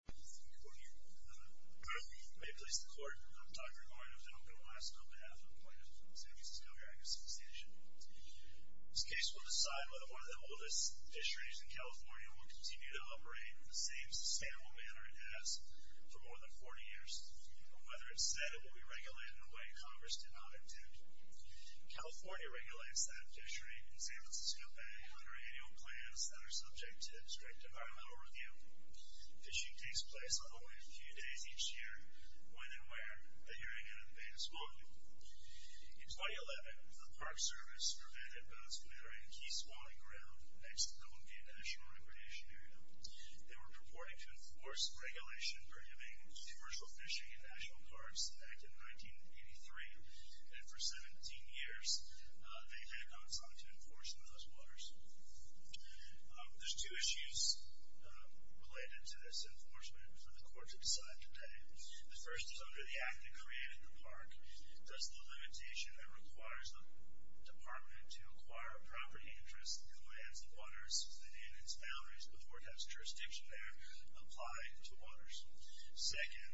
The group may please the Court. I'm Dr. Gordon Finnegan on behalf of the San Francisco Geographic Association. This case will decide whether one of the oldest fisheries in California will continue to operate in the same sustainable manner it has for more than 40 years, or whether, instead, it will be regulated in a way Congress did not intend. California regulates that fishery in San Francisco Bay under annual plans that are subject to strict environmental review. Fishing takes place only a few days each year when and where the Herring Inn in the Bay is loaded. In 2011, a Park Service prevented boats from entering a key swampy ground next to the Olympia National Recreation Area. They were purporting to enforce Regulation Prohibiting Tourist Fishing in National Parks Act of 1983, and for 17 years they had not sought to enforce it in those waters. There's two issues related to this enforcement for the Court to decide today. The first is under the Act they created in the Park. Does the limitation that requires the Department to acquire property interests in the lands and waters within its boundaries, but where it has jurisdiction there, apply to waters? Second,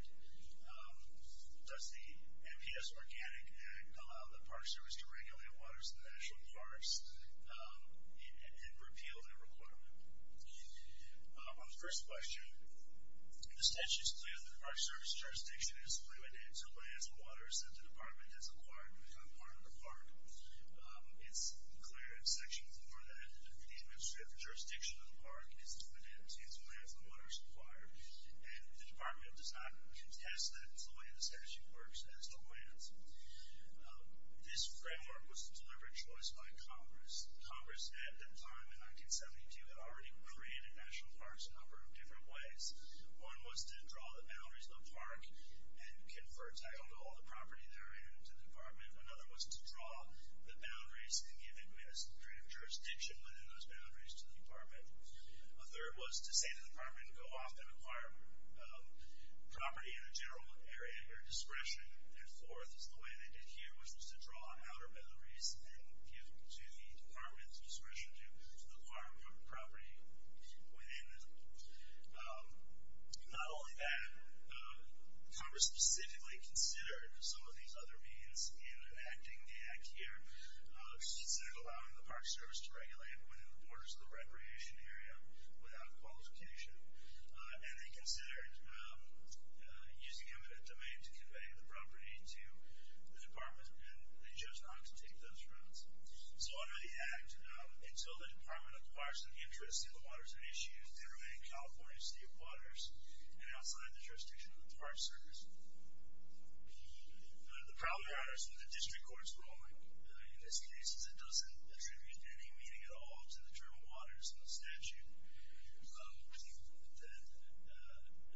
does the MPS Organic Act allow the Park Service to regulate waters in the National Parks? And repeal their requirement? On the first question, the statute is clear that the Park Service jurisdiction is limited to lands and waters that the Department has acquired to become part of the Park. It's clear in Section 4 that the administrative jurisdiction of the Park is limited to its lands and waters required, and the Department does not contest that it's the way the statute works, that it's the lands. This framework was a deliberate choice by Congress. Congress at the time, in 1972, had already created National Parks a number of different ways. One was to draw the boundaries of the Park and confer title to all the property therein to the Department. Another was to draw the boundaries and give administrative jurisdiction within those boundaries to the Department. A third was to say to the Department to go off and acquire property in a general area under discretion. And fourth is the way they did here, which was to draw outer boundaries and give to the Department's discretion to acquire property within them. Not only that, Congress specifically considered some of these other means in enacting the Act here. They considered allowing the Park Service to regulate within the borders of the recreation area without qualification. And they considered using eminent domain to convey the property to the Department, and they chose not to take those routes. So under the Act, until the Department acquires some interest in the waters and issues, they remain in California's state waters and outside the jurisdiction of the Park Service. The problem here is that the district court is wrong. In this case, it doesn't attribute any meaning at all to the term waters in the statute. We believe that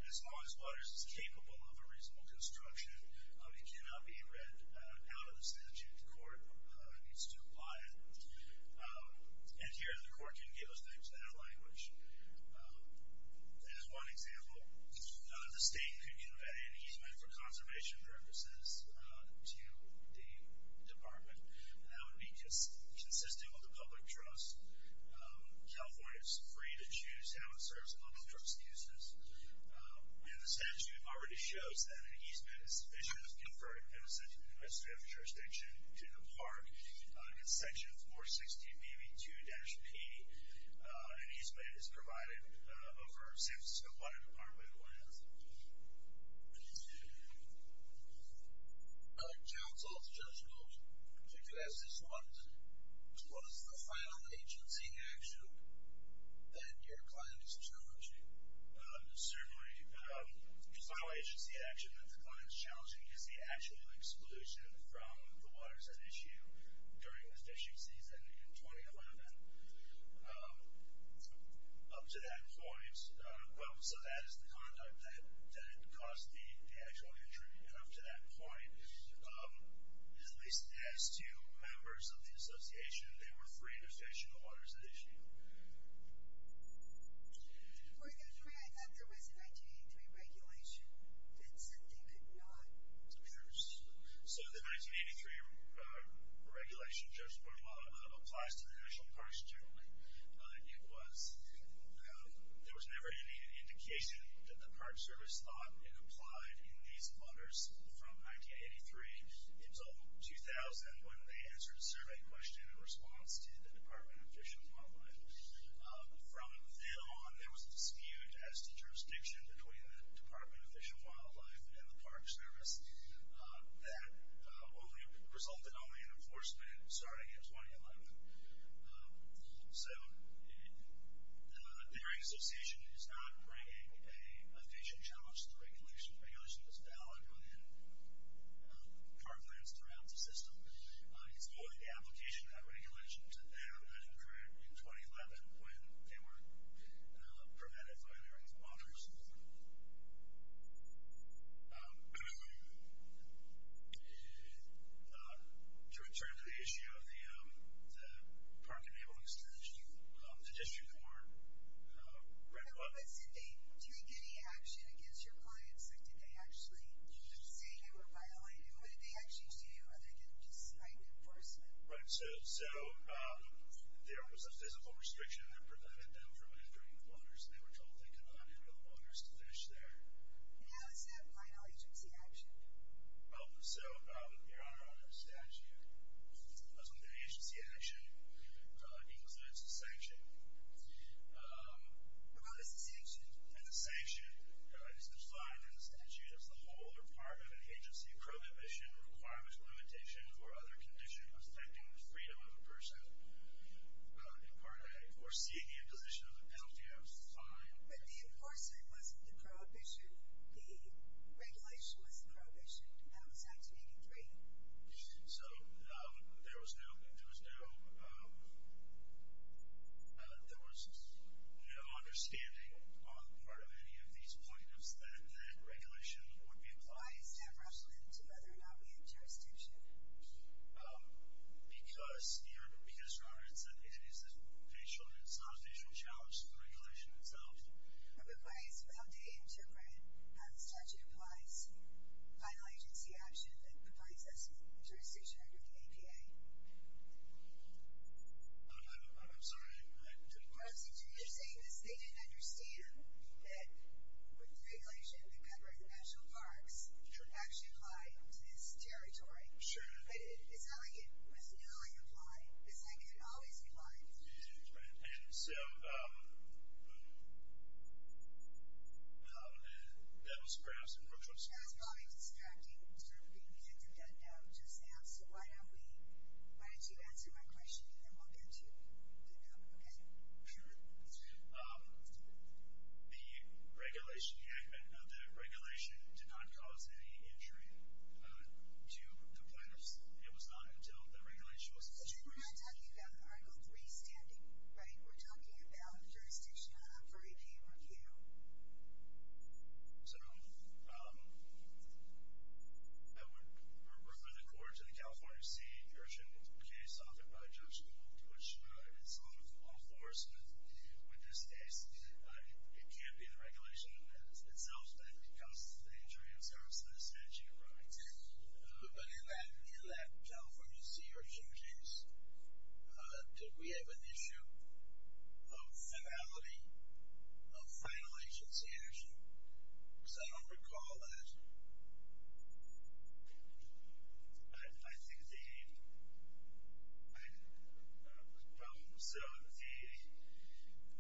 as long as waters is capable of a reasonable construction, it cannot be read out of the statute. The court needs to apply it. And here, the court can give a name to that language. As one example, the state could give any easement for conservation purposes to the Department, and that would be consistent with the public trust. California is free to choose how it serves and look for excuses. And the statute already shows that an easement is sufficient to confer a permissive administrative jurisdiction to the Park. In section 416, AB2-P, an easement is provided over a safe and secure water department with lands. Thank you. I'd like to ask this one. What is the final agency action that your client is challenging? Certainly, the final agency action that the client is challenging is the actual exclusion from the waters at issue during the fishing season in 2011. Up to that point. Well, so that is the conduct that caused the actual intrusion. Up to that point, at least as to members of the association, they were free to fish in the waters at issue. For those who may not know, there was a 1983 regulation that said they could not use. So the 1983 regulation just applies to the National Parks generally. There was never any indication that the Park Service thought it applied in these waters from 1983 until 2000 when they answered a survey question in response to the Department of Fish and Wildlife. From then on, there was a dispute as to jurisdiction between the Department of Fish and Wildlife and the Park Service that resulted only in enforcement starting in 2011. So their association is not bringing a fishing challenge to the regulation. The regulation is valid within park lands throughout the system. It's only the application of that regulation to them that occurred in 2011 when they were permitted by their own waters. Yes. To return to the issue of the Park Enablement Extension, the district court read what? Did they take any action against your clients, or did they actually say they were violating? What did they actually do, other than just cite enforcement? Right. So there was a physical restriction that prevented them from entering the waters, and they were told they could not enter the waters to fish there. And how is that violating agency action? So, Your Honor, under the statute, as with any agency action, it includes a sanction. What about a sanction? And the sanction is defined in the statute as the whole or part of an agency prohibition, requirements, limitations, or other condition affecting the freedom of a person or seeing the imposition of the penalty as defined. But the enforcer wasn't the prohibition. The regulation was the prohibition. That was 1983. So there was no understanding on the part of any of these plaintiffs that that regulation would be applied. Why is that relevant to whether or not we have jurisdiction? Because, Your Honor, it's not a facial challenge to the regulation itself. But why is it that they interpret how the statute applies to violating agency action that provides us with jurisdiction under the APA? I'm sorry, I didn't catch that. Well, since you're saying this, they didn't understand that with the regulation that covered the national parks, it does actually apply to this territory. Sure. But it's not like it was newly applied. The sanction can always be applied. And so that was perhaps a more choice question. That was probably distracting. We can get to that now. Just answer. Why don't you answer my question, and then we'll get to that now. Okay? Sure. The regulation did not cause any injury to the plaintiffs. It was not until the regulation was established. But you're not talking about Article III standing, right? We're talking about jurisdiction under the APA review. So I would refer the court to the California State version case that was authored by Judge Gould, which is law enforcement. With this case, it can't be the regulation itself that causes the injury of services and the sanction of rights. But in that California CRC case, did we have an issue of finality of final agency action? Because I don't recall that. I think the problem was, so the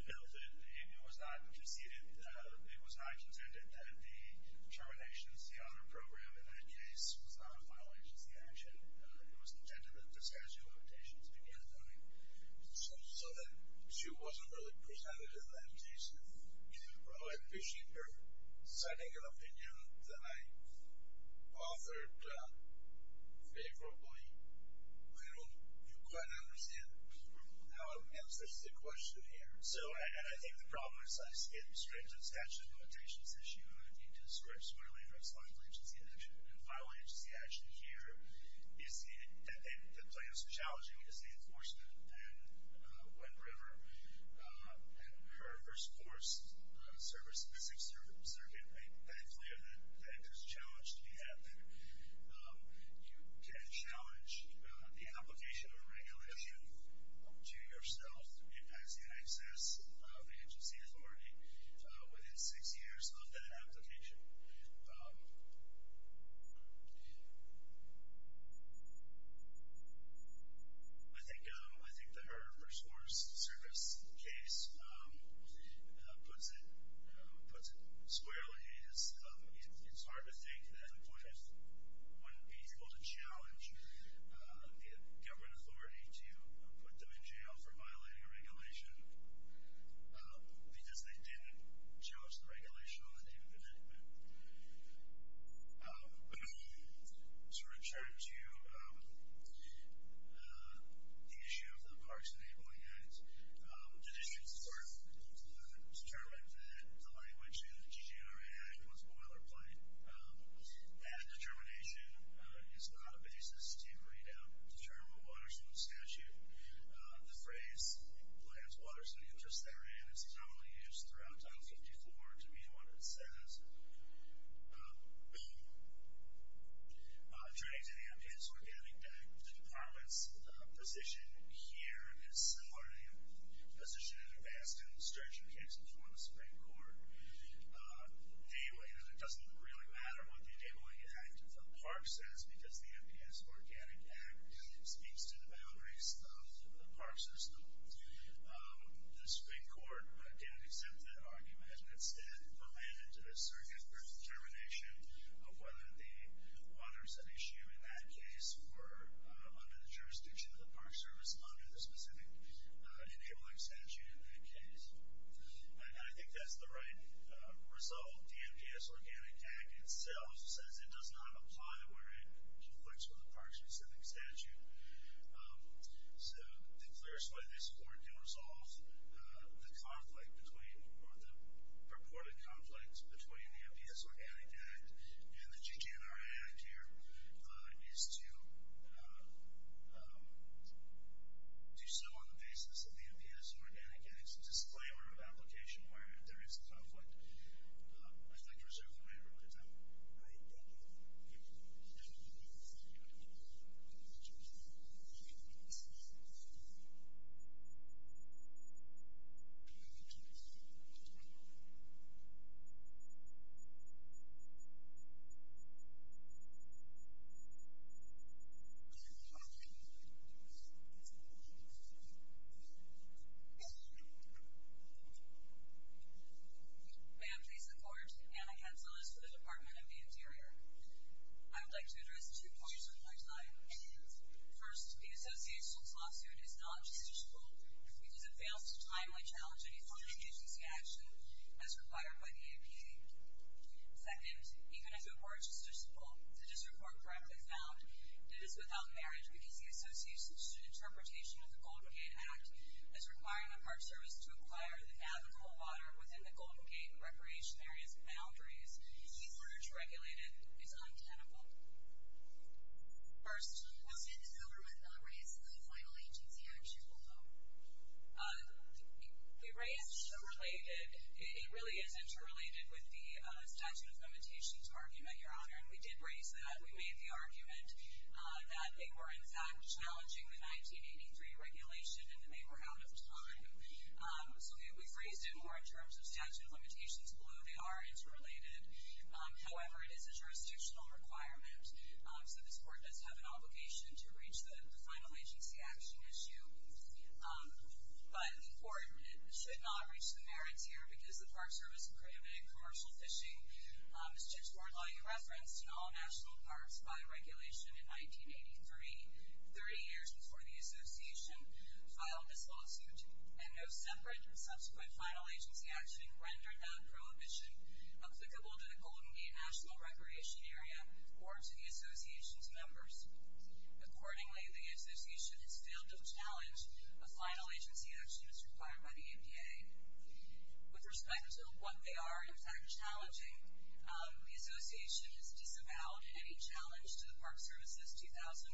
military behavior was not conceded. It was not intended that the terminations, the honor program in that case, was not a final agency action. It was intended that the statute of limitations began funding. So that issue wasn't really presented in that case. Well, I appreciate your signing an opinion that I authored favorably. I don't quite understand how it answers the question here. So I think the problem is, it's strange that the statute of limitations issue and the need to squarely address final agency action here is that the plaintiffs are challenging the state enforcement and Wed River and her first course service in the Sixth Circuit. I am clear that that is a challenge to be had there. You can challenge the application of a regulation to yourself. It has the access of agency authority within six years of that application. I think that her first course service case puts it squarely. It's hard to think that employers wouldn't be able to challenge the government authority to put them in jail for violating a regulation because they didn't judge the regulation on the name of the network. To return to the issue of the parks enabling act, the district court determined that the language in the GGRA Act was boilerplate. That determination is not a basis to read out the term of a water supply statute. The phrase lands, waters, and interests therein is commonly used throughout 1054 to mean what it says. Turning to the MPS Organic Act, the department's position here is similar to the position in the Baston Stretcher case before the Supreme Court. It doesn't really matter what the enabling act of the park says because the MPS Organic Act speaks to the boundaries of the park system. The Supreme Court didn't accept that argument and instead demanded a circuit-based determination of whether the waters at issue in that case were under the jurisdiction of the park service under the specific enabling statute in that case. I think that's the right result. The MPS Organic Act itself says it does not apply where it conflicts with a park-specific statute. So the clearest way this court can resolve the conflict between, or the purported conflicts between the MPS Organic Act and the GGNRA Act here is to do so on the basis of the MPS Organic Act. It's a disclaimer of application where there is conflict. I thank you for serving my time. First, the association's lawsuit is non-justiciable because it fails to timely challenge any funding agency action as required by the APA. Second, even if it were justiciable, the district court correctly found, it is without marriage because the association's interpretation of the Golden Gate Act is requiring the Park Service to acquire the Navajo water within the Golden Gate Recreation Area's boundaries. The emerge regulated is untenable. First, will Santa Barbara not raise the final agency action rule? It really is interrelated with the statute of limitations argument, Your Honor, and we did raise that. We made the argument that they were, in fact, challenging the 1983 regulation and they were out of time. So we've raised it more in terms of statute of limitations below. They are interrelated. However, it is a jurisdictional requirement, so this court does have an obligation to reach the final agency action issue. But the court should not reach the merits here because the Park Service prohibited commercial fishing. The district court law, you referenced, in all national parks by regulation in 1983, 30 years before the association filed this lawsuit, and no separate and subsequent final agency action rendered that prohibition applicable to the Golden Gate National Recreation Area or to the association's members. Accordingly, the association has failed to challenge a final agency action as required by the EPA. With respect to what they are, in fact, challenging, the association has disavowed any challenge to the Park Service's 2011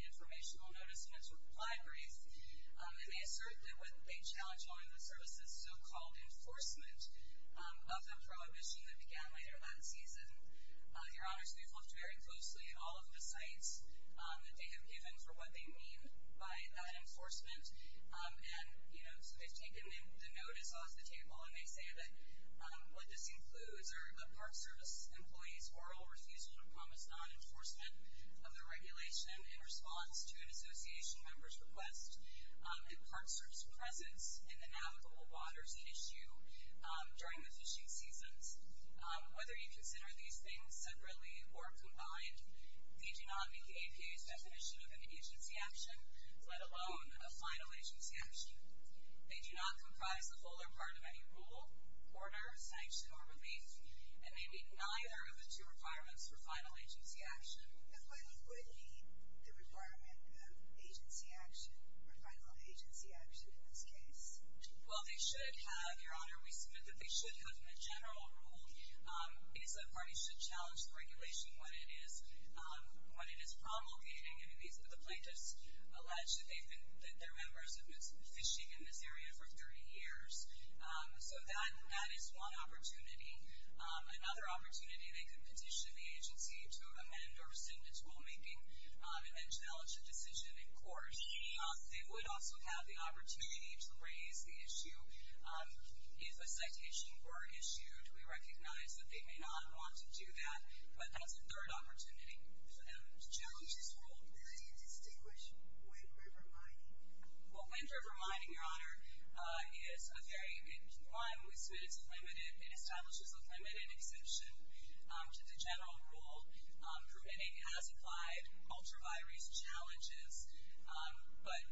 informational notice to its libraries. And they assert that they challenge only the service's so-called enforcement of the prohibition that began later that season. Your Honors, we've looked very closely at all of the sites that they have given for what they mean by that enforcement. And, you know, so they've taken the notice off the table and they say that what this of the regulation in response to an association member's request and Park Service's presence in the navigable waters issue during the fishing seasons. Whether you consider these things separately or combined, they do not meet the EPA's definition of an agency action, let alone a final agency action. They do not comprise a whole or part of any rule, order, sanction, or relief, and they do not meet neither of the two requirements for final agency action. And what would be the requirement of agency action, or final agency action, in this case? Well, they should have, Your Honor, we submit that they should have a general rule. AESA parties should challenge the regulation when it is promulgating, and the plaintiffs allege that their members have been fishing in this area for 30 years. So that is one opportunity. Another opportunity, they could petition the agency to amend or rescind its rulemaking and then challenge a decision in court. They would also have the opportunity to raise the issue if a citation were issued. We recognize that they may not want to do that, but that's a third opportunity for them to challenge this rule. How do you distinguish wind river mining? Well, wind river mining, Your Honor, is a very unique requirement. We submit it's limited. It establishes a limited exception to the general rule, permitting, as applied, ultra-virus challenges, but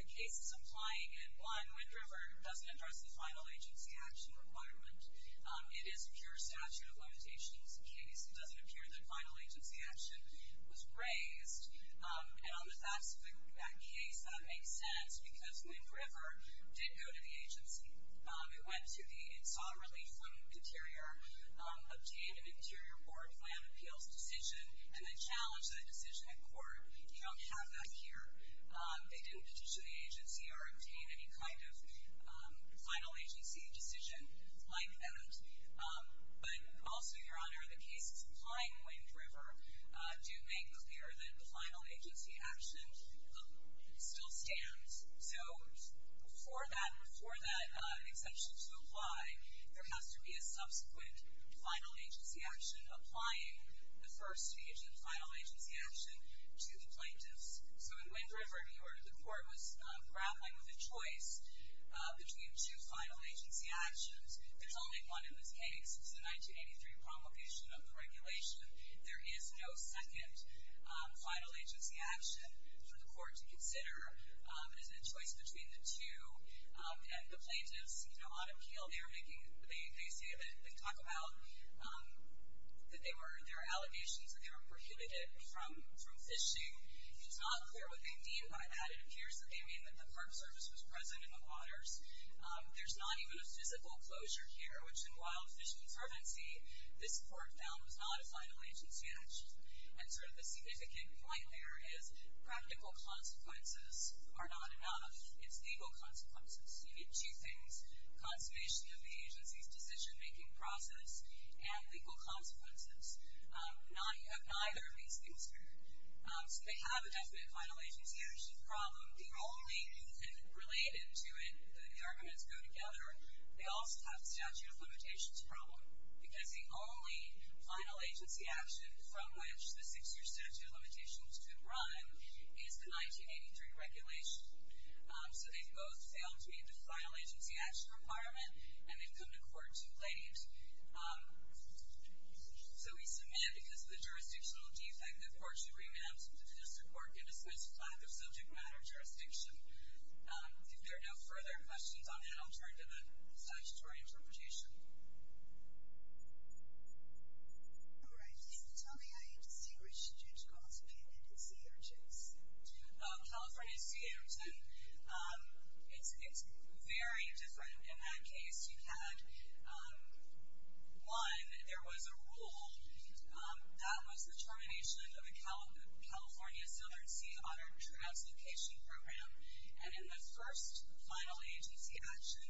the case is applying in one. Wind river doesn't address the final agency action requirement. It is pure statute of limitations case. It doesn't appear that final agency action was raised. And on the facts of that case, that makes sense, because wind river did go to the agency. It went to the, it saw relief from interior, obtained an interior board plan appeals decision, and then challenged that decision in court. You don't have that here. They didn't petition the agency or obtain any kind of final agency decision like that. But also, Your Honor, the cases applying wind river do make clear that the final agency action still stands. So before that, before that exception to apply, there has to be a subsequent final agency action applying the first stage of the final agency action to the plaintiffs. So in wind river, the court was grappling with a choice between two final agency actions. There's only one in this case. It's the 1983 promulgation of the regulation. There is no second final agency action for the court to consider. It is a choice between the two. And the plaintiffs, you know, on appeal, they are making, they say that, they talk about that they were, there are allegations that they were prohibited from fishing. It is not clear what they mean by that. It appears that they mean that the curbsurface was present in the waters. There's not even a physical closure here, which in wild fish conservancy, this court found was not a final agency action. And sort of the significant point there is practical consequences are not enough. It's legal consequences. You need two things, consummation of the agency's decision-making process and legal consequences. Now you have neither of these things here. So they have a definite final agency action problem. The only, and related to it, the arguments go together, they also have a statute of limitations problem. Because the only final agency action from which the six-year statute of limitations could run is the 1983 regulation. So they've both failed to meet the final agency action requirement, and they've come to court too late. So we submit, because of the jurisdictional defect, the court should re-enact the district court and disqualify the subject matter jurisdiction. If there are no further questions on that, I'll turn to the statutory interpretation. All right. Please tell me how you distinguish a judge called a defendant in C.A. or J.S. California C.A. or J.S. It's very different. In that case, you had, one, there was a rule that was the termination of a California southern sea auto translocation program. And in the first final agency action,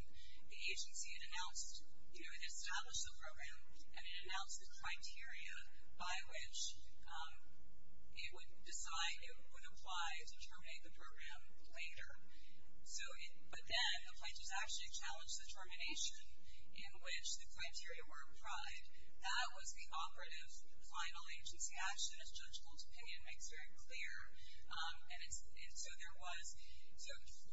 the agency had announced, you know, it had established the program, and it announced the criteria by which it would decide, it would apply to terminate the program later. But then the plaintiffs actually challenged the termination in which the criteria were applied. That was the operative final agency action, as Judge Gold's opinion makes very clear. And so there was, so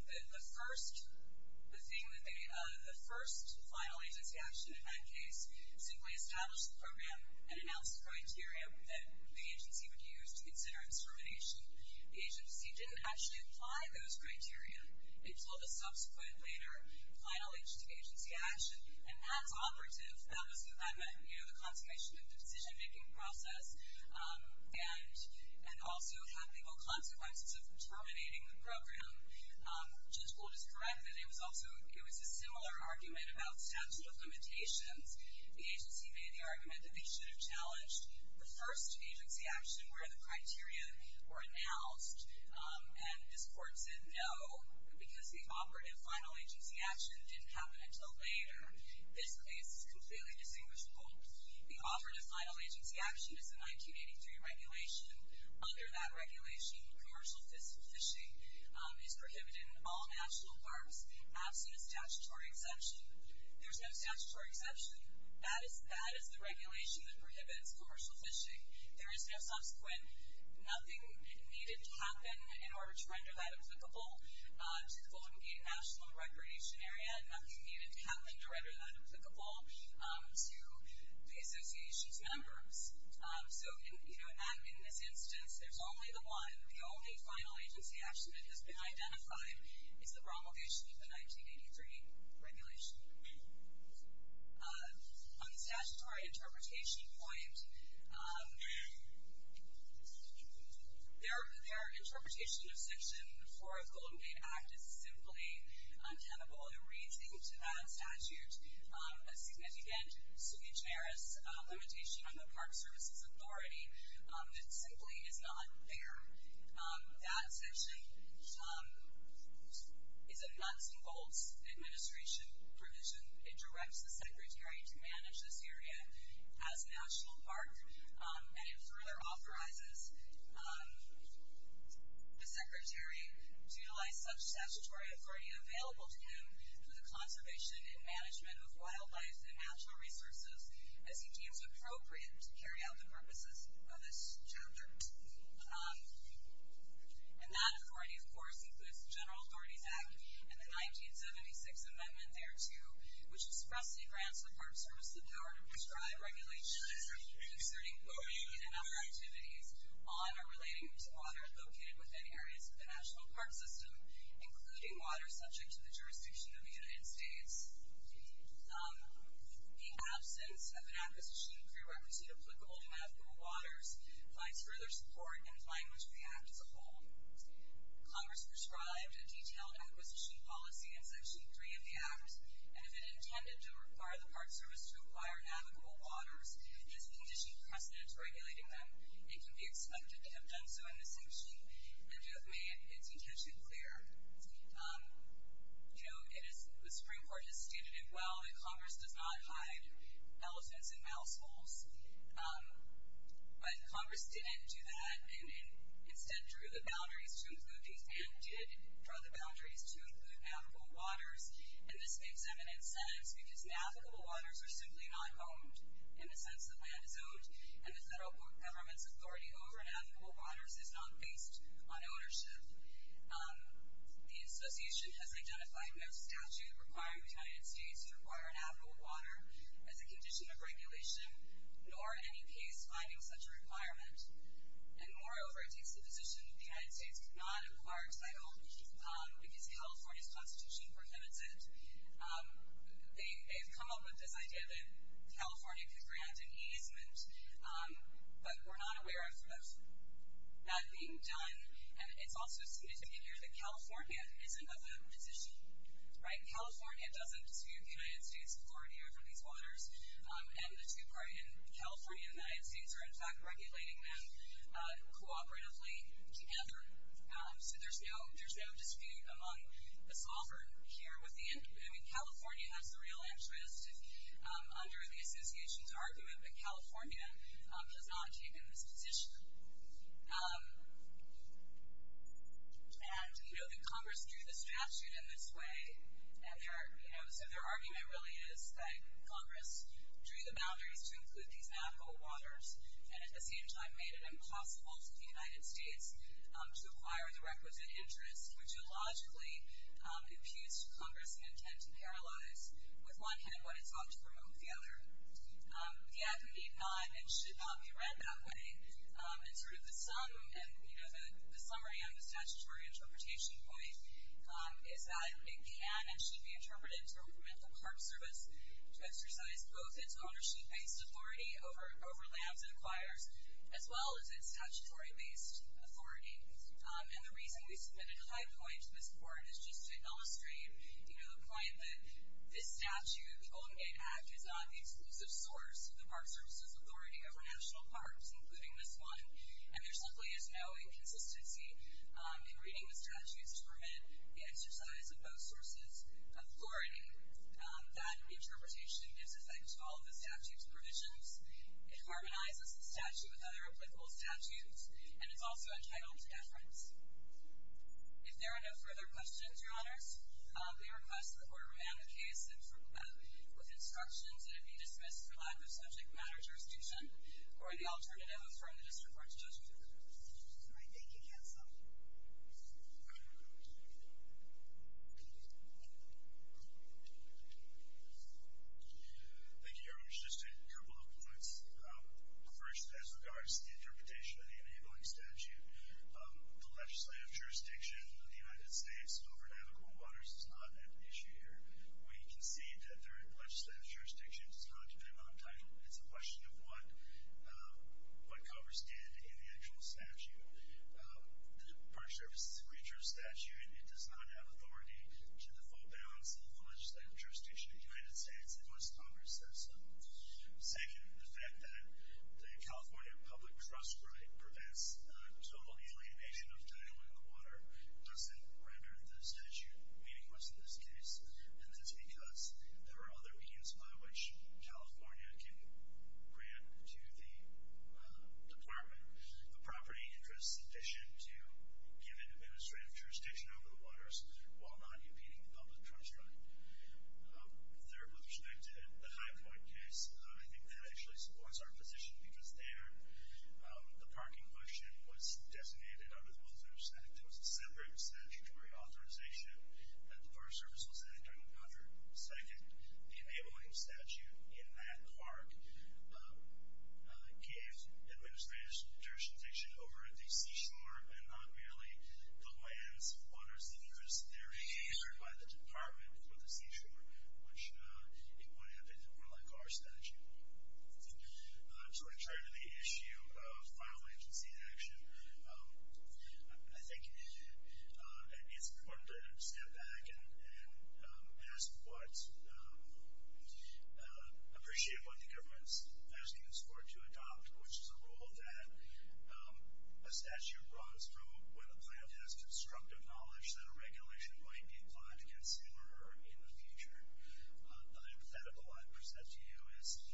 the first thing that they, the first final agency action in that case simply established the program and announced the criteria that the agency would use to consider its termination. The agency didn't actually apply those criteria until the subsequent later final agency action. And as operative, that was the consummation of the decision-making process and also had legal consequences of terminating the program. Judge Gold is correct that it was also, it was a similar argument about statute of limitations. The agency made the argument that they should have challenged the first agency action where the criteria were announced. And this court said no, because the operative final agency action didn't happen until later. This case is completely distinguishable. The operative final agency action is a 1983 regulation. Under that regulation, commercial fishing is prohibited in all national parks, absent a statutory exception. There's no statutory exception. That is the regulation that prohibits commercial fishing. There is no subsequent, nothing needed to happen in order to render that applicable to the Golden Gate National Recreation Area, nothing needed to happen to render that applicable to the association's members. So in this instance, there's only the one, the only final agency action that has been identified is the promulgation of the 1983 regulation. On the statutory interpretation point, their interpretation of Section 4 of the Golden Gate Act is simply untenable. It reads into that statute a significant, sui generis limitation on the Park Services Authority that simply is not fair. That section is a nuts and bolts administration provision. It directs the Secretary to manage this area as a national park, and it further authorizes the Secretary to utilize such statutory authority available to him for the conservation and management of wildlife and natural resources as he deems appropriate to carry out the purposes of this chapter. And that authority, of course, includes the General Authorities Act and the 1976 amendment thereto, which expressly grants the Park Service the power to prescribe regulations concerning golden gate and other activities on or relating to water located within areas of the national park system, including water subject to the jurisdiction of the United States. The absence of an acquisition prerequisite applicable to navigable waters provides further support and language for the Act as a whole. Congress prescribed a detailed acquisition policy in Section 3 of the Act, and if it intended to require the Park Service to acquire navigable waters, it has conditioned precedent to regulating them. It can be expected to have done so in this section and to have made its intention clear. You know, the Supreme Court has stated it well that Congress does not hide elephants and mouse holes, but Congress didn't do that and instead drew the boundaries to include these and did draw the boundaries to include navigable waters, and this makes eminent sense because navigable waters are simply not owned, in the sense that land is owned, and the federal government's authority over navigable waters is not based on ownership. The Association has identified no statute requiring the United States to require navigable water as a condition of regulation, nor any case finding such a requirement. And moreover, it takes the position that the United States cannot acquire title because California's Constitution prohibits it. They've come up with this idea that California could grant an easement, but we're not aware of that being done, and it's also significant here that California is another position. California doesn't dispute the United States' authority over these waters, and the two parties, California and the United States, are in fact regulating them cooperatively together, so there's no dispute among the sovereign here. California has the real interest under the Association's argument, but California has not taken this position. And you know that Congress drew the statute in this way, and so their argument really is that Congress drew the boundaries to include these navigable waters, and at the same time made it impossible to the United States to acquire the requisite interest, which would logically impugn Congress's intent to paralyze, with one hand, what it's ought to promote with the other. The act would need not and should not be read that way, and sort of the summary on the statutory interpretation point is that it can and should be interpreted to implement the Park Service to exercise both its ownership-based authority over lands it acquires, as well as its statutory-based authority. And the reason we submitted a high point to this court is just to illustrate the point that this statute, the Golden Gate Act, is not the exclusive source of the Park Service's authority over national parks, including this one, and there simply is no inconsistency in reading the statutes to permit the exercise of both sources' authority. That interpretation gives effect to all of the statute's provisions, it harmonizes the statute with other applicable statutes, and it's also entitled to deference. If there are no further questions, Your Honors, we request that the Court remand the case with instructions that it be dismissed for lack of subject matter jurisdiction or the alternative affirmed in this report's judgment. All right, thank you, Kansal. Thank you, Your Honors. Just a couple of comments. First, as regards to the interpretation of the enabling statute, the legislative jurisdiction of the United States over navigable waters is not an issue here. We concede that the legislative jurisdiction does not depend on title. It's a question of what covers stand in the actual statute. The Park Service's retro statute, it does not have authority to the full balance of the legislative jurisdiction of the United States unless Congress has some. Second, the fact that the California public trust rate prevents total alienation of title in the water doesn't render the statute meaningless in this case, and that's because there are other means by which California can grant to the Department a property interest sufficient to give it administrative jurisdiction over the waters while not impeding the public trust rate. Third, with respect to the High Point case, I think that actually supports our position because there, the parking motion was designated under the Wilson Act. It was a separate statutory authorization. The Park Service was in it during the 100th cycle. The enabling statute in that park gives administrative jurisdiction over the seashore and not merely the lands, waters, and rivers. They're favored by the Department for the seashore, which would have been more like our statute. I'm sort of trying to make issue of final agency in action. I think it's important to step back and ask what appreciate what the government's asking us for to adopt, which is a rule that a statute brought us from when a plant has constructive knowledge that a regulation might be applied to a consumer in the future. The hypothetical I present to you is,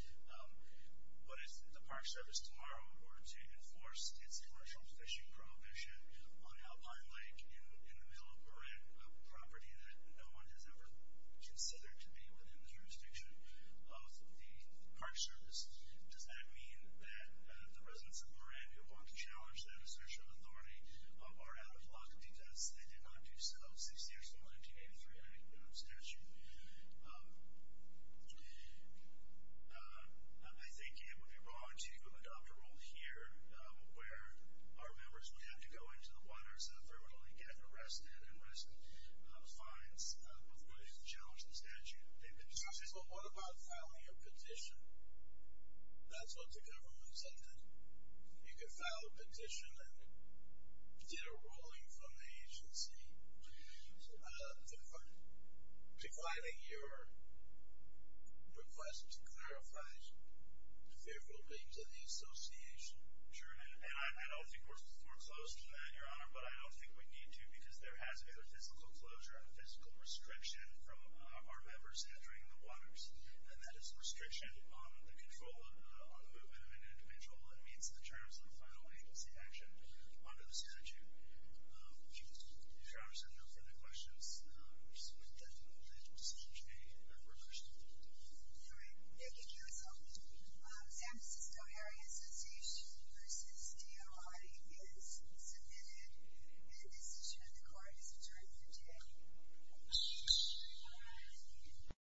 what if the Park Service tomorrow were to enforce its commercial fishing prohibition on Alpine Lake in the middle of Moran, a property that no one has ever considered to be within the jurisdiction of the Park Service? Does that mean that the residents of Moran who want to challenge that assertion of authority are out of luck because they did not do so in the 16th and 1983 statute? I think it would be wrong to adopt a rule here where our members would have to go into the waters and they would only get arrested and risk fines before they could challenge the statute. They've been successful. What about filing a petition? That's what the government said that you could file a petition and did a ruling from the agency for defining your request to clarify the favorable things of the association. Sure, and I don't think we're foreclosed to that, Your Honor, but I don't think we need to because there has to be a physical closure and a physical restriction from our members entering the waters, and that is a restriction on the control and on the movement of an individual that meets the terms of the final agency action under the statute. Your Honor, if there are no further questions, we'll submit that decision today for recursion. All right. Thank you, counsel. Ms. Anderson, Stowe Area Association v. DOI is submitted, and the decision of the court is adjourned for today. Thank you.